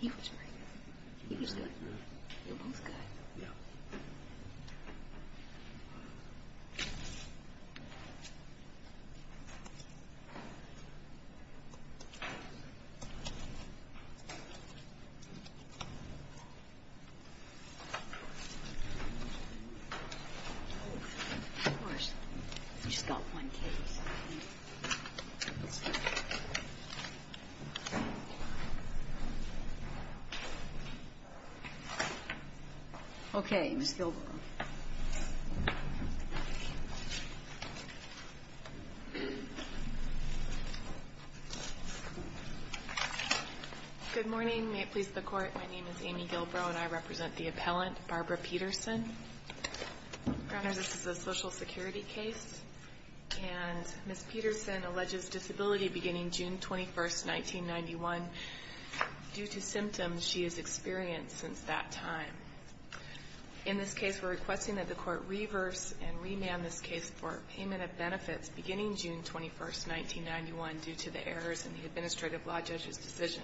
He was great. He was good. You're both good. Of course, you just got one case. Okay, Ms. Gilbrow. Good morning. May it please the Court, my name is Amy Gilbrow and I represent the appellant, Barbara Peterson. This is a social security case, and Ms. Peterson alleges disability beginning June 21, 1991, due to symptoms she has experienced since that time. In this case, we're requesting that the Court reverse and remand this case for payment of benefits beginning June 21, 1991, due to the errors in the administrative law judge's decision.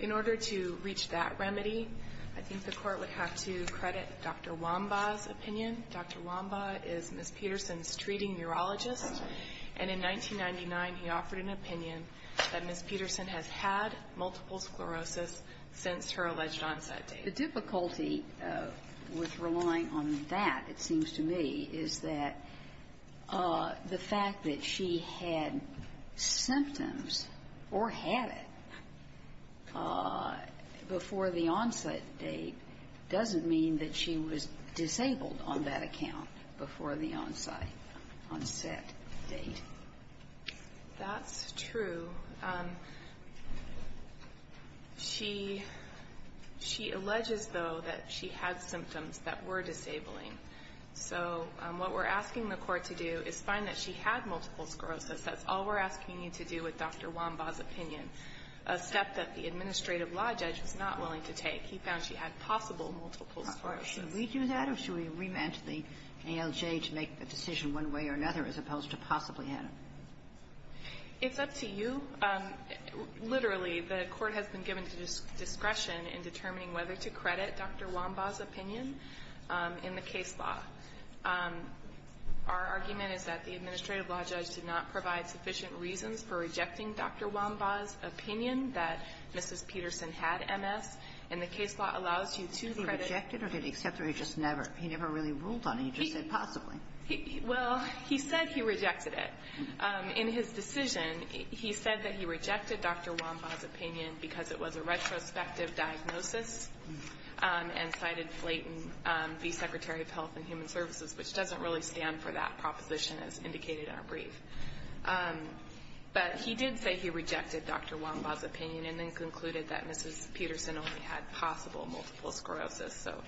In order to reach that remedy, I think the Court would have to credit Dr. Wambaugh's opinion. Dr. Wambaugh is Ms. Peterson's treating neurologist, and in 1999, he offered an opinion that Ms. Peterson has had multiple sclerosis since her alleged onset date. The difficulty with relying on that, it seems to me, is that the fact that she had symptoms, or had it, was not the only reason. Before the onset date doesn't mean that she was disabled on that account before the onset date. That's true. She alleges, though, that she had symptoms that were disabling. So what we're asking the Court to do is find that she had multiple sclerosis. That's all we're asking you to do with Dr. Wambaugh's opinion. A step that the administrative law judge was not willing to take. He found she had possible multiple sclerosis. Should we do that, or should we remand the ALJ to make the decision one way or another, as opposed to possibly had it? It's up to you. Literally, the Court has been given discretion in determining whether to credit Dr. Wambaugh's opinion in the case law. Our argument is that the administrative law judge did not provide sufficient reasons for rejecting Dr. Wambaugh's opinion that Mrs. Peterson had MS, and the case law allows you to credit her. He rejected it, or did he accept it, or he just never? He never really ruled on it. He just said possibly. Well, he said he rejected it. In his decision, he said that he rejected Dr. Wambaugh's opinion because it was a retrospective diagnosis and cited Flayton, the Secretary of Health and Human Services, which doesn't really stand for that proposition as indicated in our brief. But he did say he rejected Dr. Wambaugh's opinion and then concluded that Mrs. Peterson only had possible multiple sclerosis. So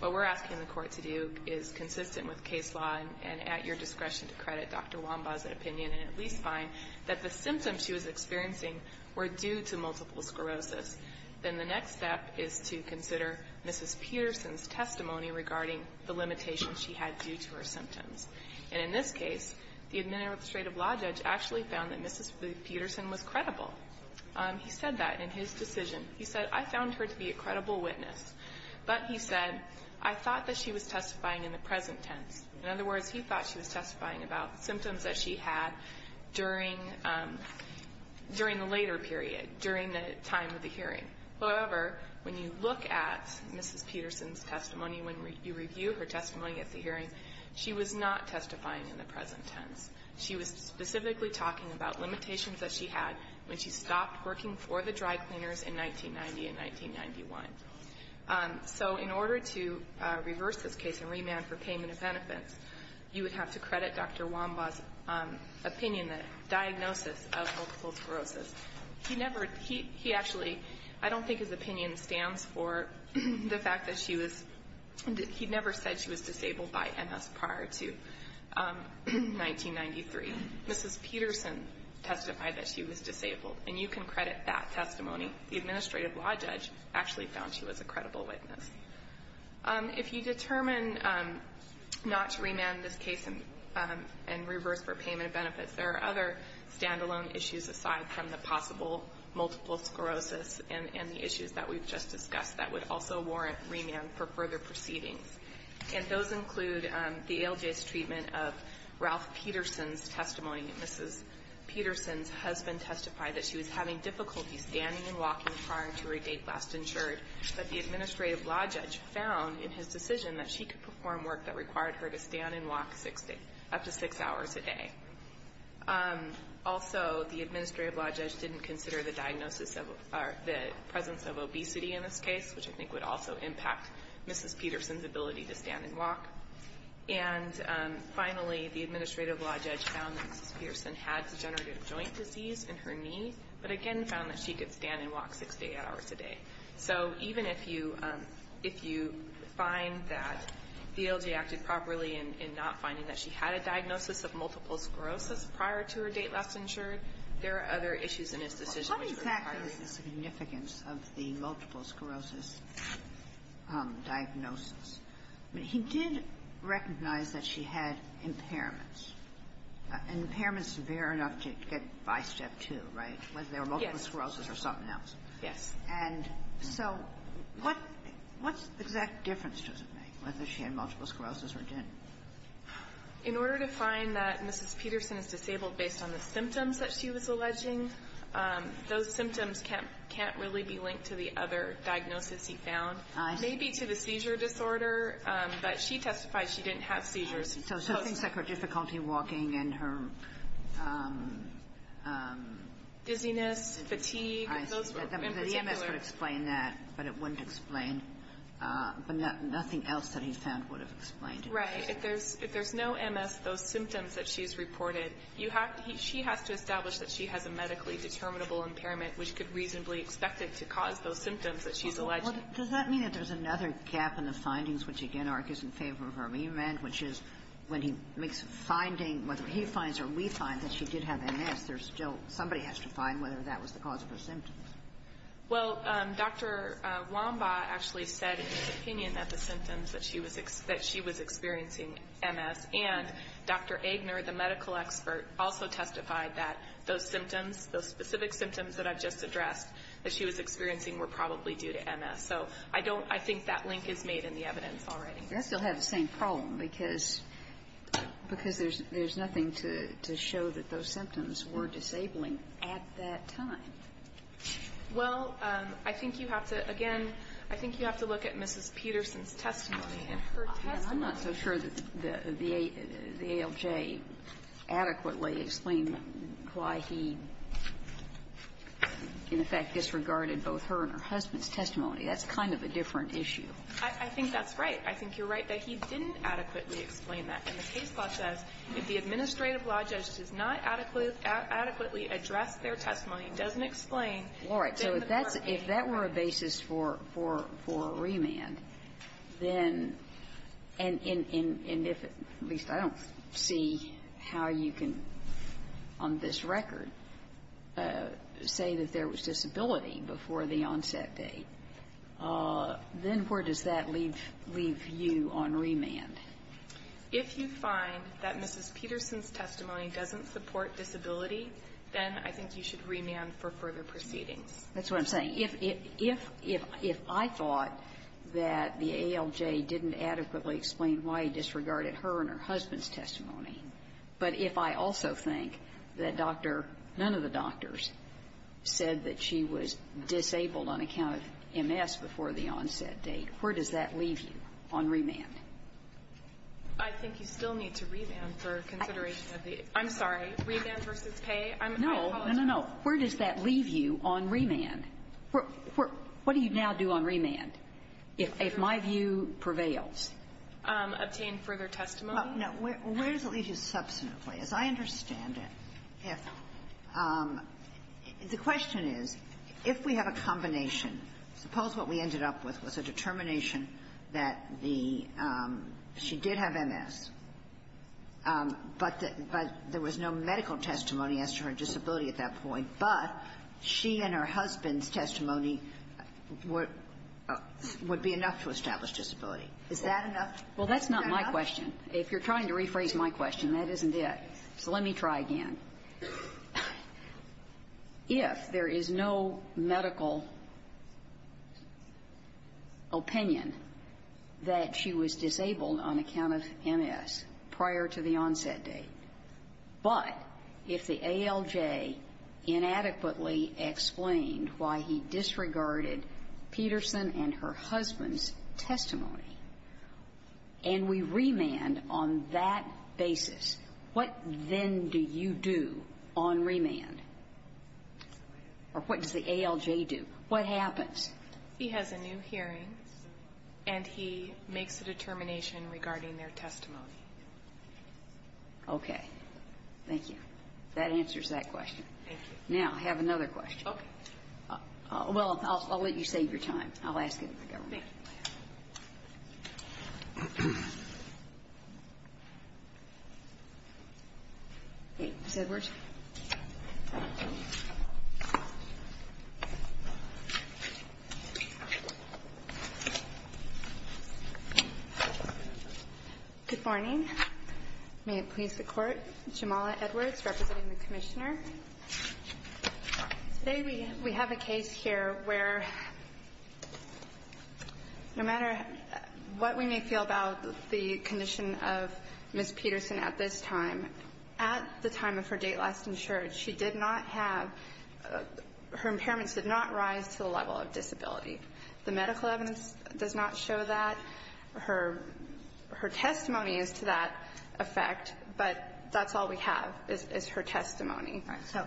what we're asking the Court to do is consistent with case law and at your discretion to credit Dr. Wambaugh's opinion and at least find that the symptoms she was experiencing were due to multiple sclerosis. Then the next step is to consider Mrs. Peterson's testimony regarding the limitations she had due to her symptoms. And in this case, the administrative law judge actually found that Mrs. Peterson was credible. He said that in his decision. He said, I found her to be a credible witness. But he said, I thought that she was testifying in the present tense. In other words, he thought she was testifying about symptoms that she had during the later period, during the time of the hearing. However, when you look at Mrs. Peterson's testimony, when you review her testimony at the hearing, she was not testifying in the present tense. She was specifically talking about limitations that she had when she stopped working for the dry cleaners in 1990 and 1991. So in order to reverse this case and remand for payment of benefits, you would have to credit Dr. Wambaugh's opinion, the diagnosis of multiple sclerosis. He never, he actually, I don't think his opinion stands for the fact that she was, he never said she was disabled by MS prior to 1993. Mrs. Peterson testified that she was disabled. And you can credit that testimony. The administrative law judge actually found she was a credible witness. If you determine not to remand this case and reverse for payment of benefits, there are other standalone issues aside from the possible multiple sclerosis and the issues that we've just discussed that would also warrant remand for further proceedings. And those include the ALJ's treatment of Ralph Peterson's testimony. Mrs. Peterson's husband testified that she was having difficulty standing and walking prior to her date last insured. But the administrative law judge found in his decision that she could perform work that required her to stand and walk six days, up to six hours a day. Also, the administrative law judge didn't consider the diagnosis of, or the presence of obesity in this case, which I think would also impact Mrs. Peterson's ability to stand and walk. And finally, the administrative law judge found that Mrs. Peterson had degenerative joint disease in her knee, but again found that she could stand and walk six hours a day. So even if you find that the ALJ acted properly in not finding that she had a diagnosis of multiple sclerosis prior to her date last insured, there are other issues in its decision which require it. Kagan. What exactly is the significance of the multiple sclerosis diagnosis? I mean, he did recognize that she had impairments, impairments severe enough to get by Step 2, right? Whether they were multiple sclerosis or something else. And so what's the exact difference, does it make, whether she had multiple sclerosis or didn't? In order to find that Mrs. Peterson is disabled based on the symptoms that she was alleging, those symptoms can't really be linked to the other diagnosis he found. I see. Maybe to the seizure disorder, but she testified she didn't have seizures. So things like her difficulty walking and her... Dizziness, fatigue. Those were in particular... The MS would explain that, but it wouldn't explain, but nothing else that he found would have explained it. Right. If there's no MS, those symptoms that she's reported, you have to, she has to establish that she has a medically determinable impairment which could reasonably expect it to cause those symptoms that she's alleging. Well, does that mean that there's another gap in the findings, which, again, ARC is in favor of her amendment, which is when he makes a finding, whether he finds or we find that she did have MS, there's still, somebody has to find whether that was the cause of her symptoms. Well, Dr. Wambaugh actually said in his opinion that the symptoms that she was experiencing MS, and Dr. Aigner, the medical expert, also testified that those symptoms, those specific symptoms that I've just addressed that she was experiencing were probably due to MS. So I don't, I think that link is made in the evidence already. That still has the same problem, because there's nothing to show that those symptoms were disabling at that time. Well, I think you have to, again, I think you have to look at Mrs. Peterson's testimony and her testimony. I'm not so sure that the ALJ adequately explained why he, in effect, disregarded both her and her husband's testimony. That's kind of a different issue. I think that's right. I think you're right that he didn't adequately explain that. And the case law says if the administrative law judge does not adequately address their testimony, doesn't explain, then the court may not. All right. So if that's, if that were a basis for remand, then, and if, at least I don't see how you can, on this record, say that there was disability before the onset date, then where does that leave, leave you on remand? If you find that Mrs. Peterson's testimony doesn't support disability, then I think you should remand for further proceedings. That's what I'm saying. If, if, if, if I thought that the ALJ didn't adequately explain why he disregarded her and her husband's testimony, but if I also think that Dr., none of the doctors said that she was disabled on account of MS before the onset date, where does that leave you on remand? I think you still need to remand for consideration of the, I'm sorry, remand versus pay? I apologize. No. No, no, no. Where does that leave you on remand? What do you now do on remand, if my view prevails? Obtain further testimony. Where does it leave you substantively? As I understand it, if the question is, if we have a combination, suppose what we ended up with was a determination that the, she did have MS, but there was no medical testimony as to her disability at that point, but she and her husband's testimony would be enough to establish disability. Is that enough? Well, that's not my question. If you're trying to rephrase my question, that isn't it. So let me try again. If there is no medical opinion that she was disabled on account of MS prior to the onset date, but if the ALJ inadequately explained why he disregarded Peterson and her husband's testimony, and we remand on that basis, what then do you do on remand? Or what does the ALJ do? What happens? He has a new hearing, and he makes a determination regarding their testimony. Okay. Thank you. That answers that question. Thank you. Now, I have another question. Okay. Well, I'll let you save your time. I'll ask it of the government. Thank you. Ms. Edwards? Good morning. May it please the Court, Jamala Edwards, representing the Commissioner. Today we have a case here where no matter what we may feel about the condition of Ms. Peterson at this time, at the time of her date last insured, she did not have her impairments did not rise to the level of disability. The medical evidence does not show that. Her testimony is to that effect, but that's all we have is her testimony. So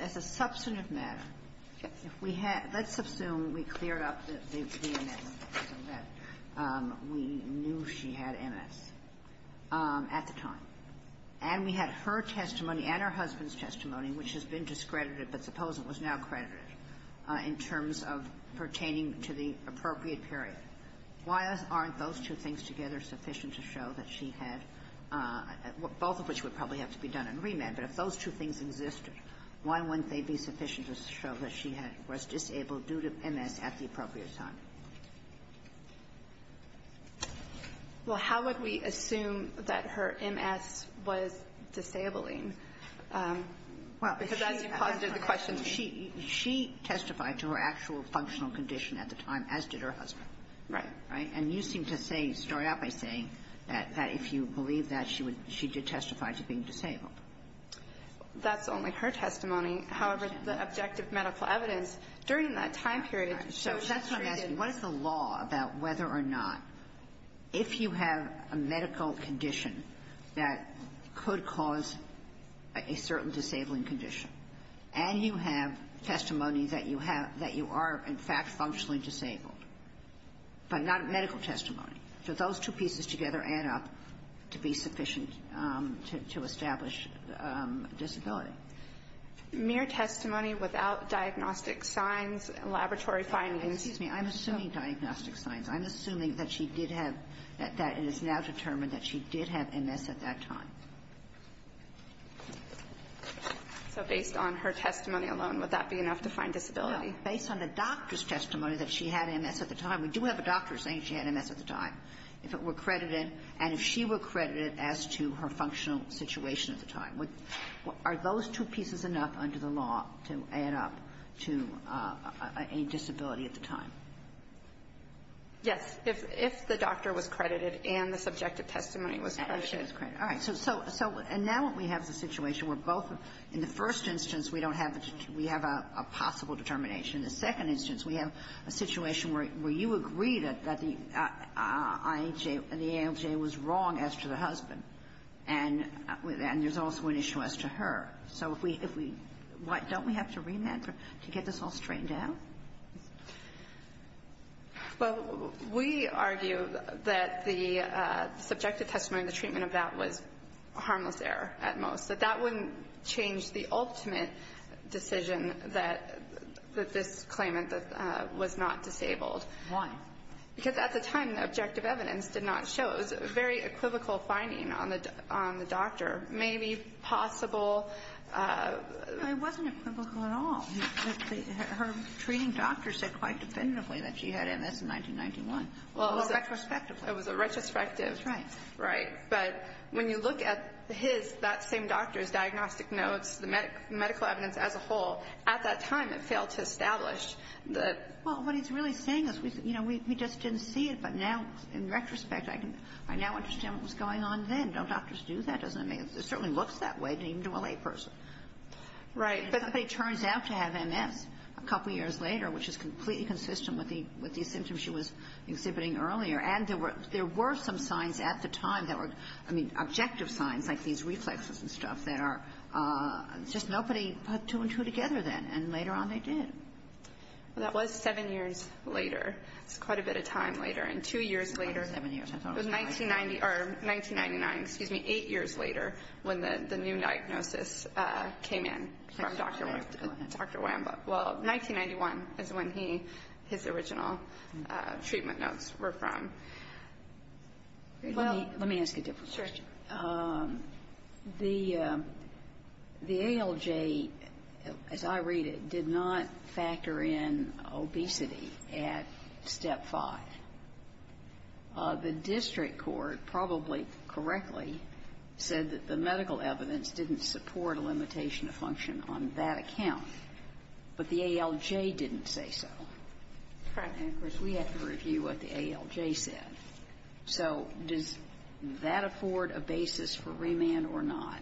as a substantive matter, if we had – let's assume we cleared up the MS, so that we knew she had MS at the time, and we had her testimony and her husband's testimony, which has been discredited, but suppose it was now credited in terms of pertaining to the appropriate period. Why aren't those two things together sufficient to show that she had – both of which would probably have to be done in remand. But if those two things existed, why wouldn't they be sufficient to show that she had – was disabled due to MS at the appropriate time? Well, how would we assume that her MS was disabling? Well, she testified to her actual functional condition at the time, as did her husband. Right. Right. And you seem to say – start out by saying that if you believe that, she would – she did testify to being disabled. That's only her testimony. However, the objective medical evidence during that time period shows that she did. So that's why I'm asking, what is the law about whether or not, if you have a medical condition that could cause a certain disabling condition, and you have testimony that you have – that you are, in fact, functionally disabled, but not medical testimony. So those two pieces together add up to be sufficient to establish disability. Mere testimony without diagnostic signs, laboratory findings. Excuse me. I'm assuming diagnostic signs. I'm assuming that she did have – that it is now determined that she did have MS at that time. So based on her testimony alone, would that be enough to find disability? Based on the doctor's testimony that she had MS at the time. We do have a doctor saying she had MS at the time, if it were credited, and if she were credited as to her functional situation at the time. Would – are those two pieces enough under the law to add up to a disability at the time? Yes. If the doctor was credited and the subjective testimony was credited. All right. So now what we have is a situation where both – in the first instance we don't have a – we have a possible determination. In the second instance we have a situation where you agree that the IHA – the IHA was wrong as to the husband, and there's also an issue as to her. So if we – don't we have to remand her to get this all straightened out? Well, we argue that the subjective testimony, the treatment of that was harmless error at most, that that wouldn't change the ultimate decision that this claimant was not disabled. Why? Because at the time the objective evidence did not show. It was a very equivocal finding on the doctor. Maybe possible – It wasn't equivocal at all. Her treating doctor said quite definitively that she had MS in 1991. Well, it was a – Retrospectively. It was a retrospective – Right. Right. But when you look at his – that same doctor's diagnostic notes, the medical evidence as a whole, at that time it failed to establish that – Well, what he's really saying is, you know, we just didn't see it, but now in retrospect I can – I now understand what was going on then. Don't doctors do that? Doesn't it make – it certainly looks that way to even a layperson. Right. Somebody turns out to have MS a couple years later, which is completely consistent with the symptoms she was exhibiting earlier. And there were some signs at the time that were – I mean, objective signs like these reflexes and stuff that are – just nobody put two and two together then. And later on they did. Well, that was seven years later. That's quite a bit of time later. And two years later – It was seven years. I thought it was nine. Nineteen ninety – or 1999, excuse me, eight years later when the new diagnosis came in from Dr. Wambaugh. Dr. Wambaugh. Well, 1991 is when he – his original treatment notes were from. Let me ask a different question. Sure. The ALJ, as I read it, did not factor in obesity at Step 5. The district court probably correctly said that the medical evidence didn't support a limitation of function on that account, but the ALJ didn't say so. Right. And, of course, we had to review what the ALJ said. So does that afford a basis for remand or not?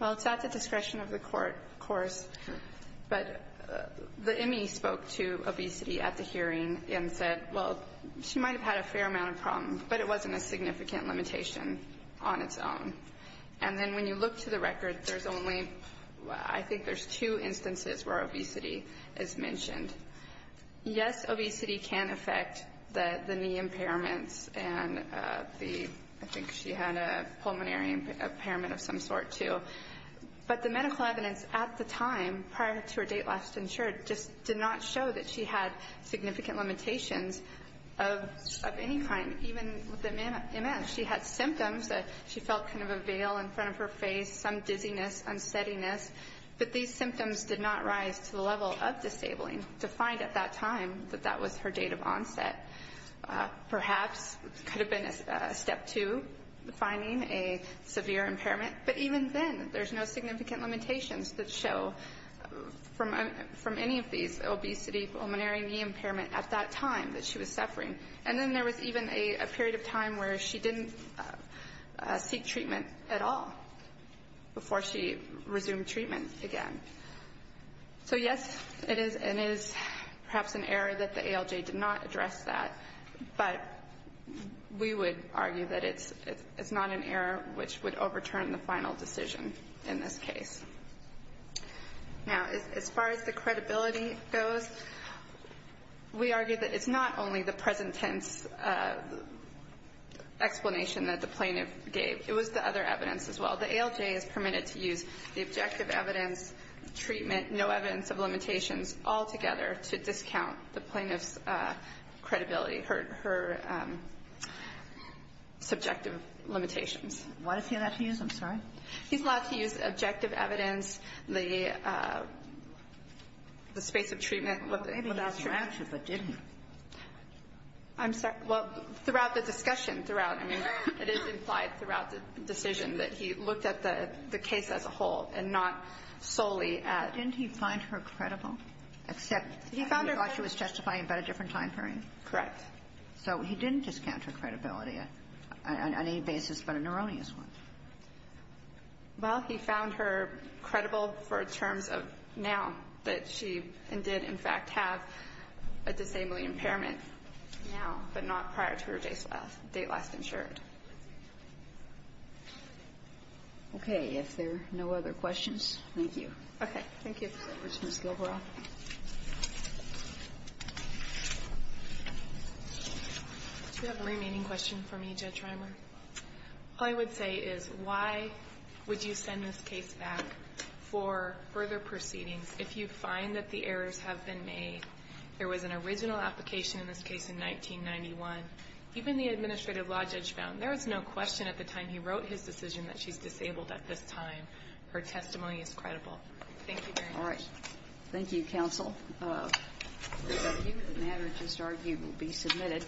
Well, it's at the discretion of the court, of course. But the ME spoke to obesity at the hearing and said, well, she might have had a fair amount of problems, but it wasn't a significant limitation on its own. And then when you look to the Yes, obesity can affect the knee impairments and the – I think she had a pulmonary impairment of some sort, too. But the medical evidence at the time, prior to her date last insured, just did not show that she had significant limitations of any kind, even with the MS. She had symptoms that she felt kind of a veil in front of her face, some dizziness, unsteadiness. But these symptoms did not rise to the time that that was her date of onset. Perhaps it could have been a step two, finding a severe impairment. But even then, there's no significant limitations that show from any of these, obesity, pulmonary, knee impairment, at that time that she was suffering. And then there was even a period of time where she didn't seek treatment at all before she resumed treatment again. So, yes, it is and is perhaps an error that the ALJ did not address that. But we would argue that it's not an error which would overturn the final decision in this case. Now, as far as the credibility goes, we argue that it's not only the present tense explanation that the plaintiff gave. It was the other evidence as well. The plaintiff gave no evidence of treatment, no evidence of limitations altogether to discount the plaintiff's credibility, her subjective limitations. Why is he allowed to use them? Sorry. He's allowed to use objective evidence, the space of treatment. Maybe he was drafted, but didn't. I'm sorry. Well, throughout the discussion, throughout, I mean, it is implied throughout the decision that he looked at the case as a whole and not solely at Didn't he find her credible? Except he thought she was testifying about a different time period. Correct. So he didn't discount her credibility on any basis but an erroneous one. Well, he found her credible for terms of now that she did, in fact, have a disabling impairment now, but not prior to her date last insured. Okay. If there are no other questions, thank you. Okay. Thank you. Thank you, Ms. Gilbreath. Do you have a remaining question for me, Judge Reimer? All I would say is why would you send this case back for further proceedings if you find that the errors have been made? There was an original application in this case in 1991. Even the administrative law judge found there was no question at the time he wrote his decision that she's disabled at this time. Her testimony is credible. Thank you very much. All right. Thank you, counsel. The matter to start will be submitted.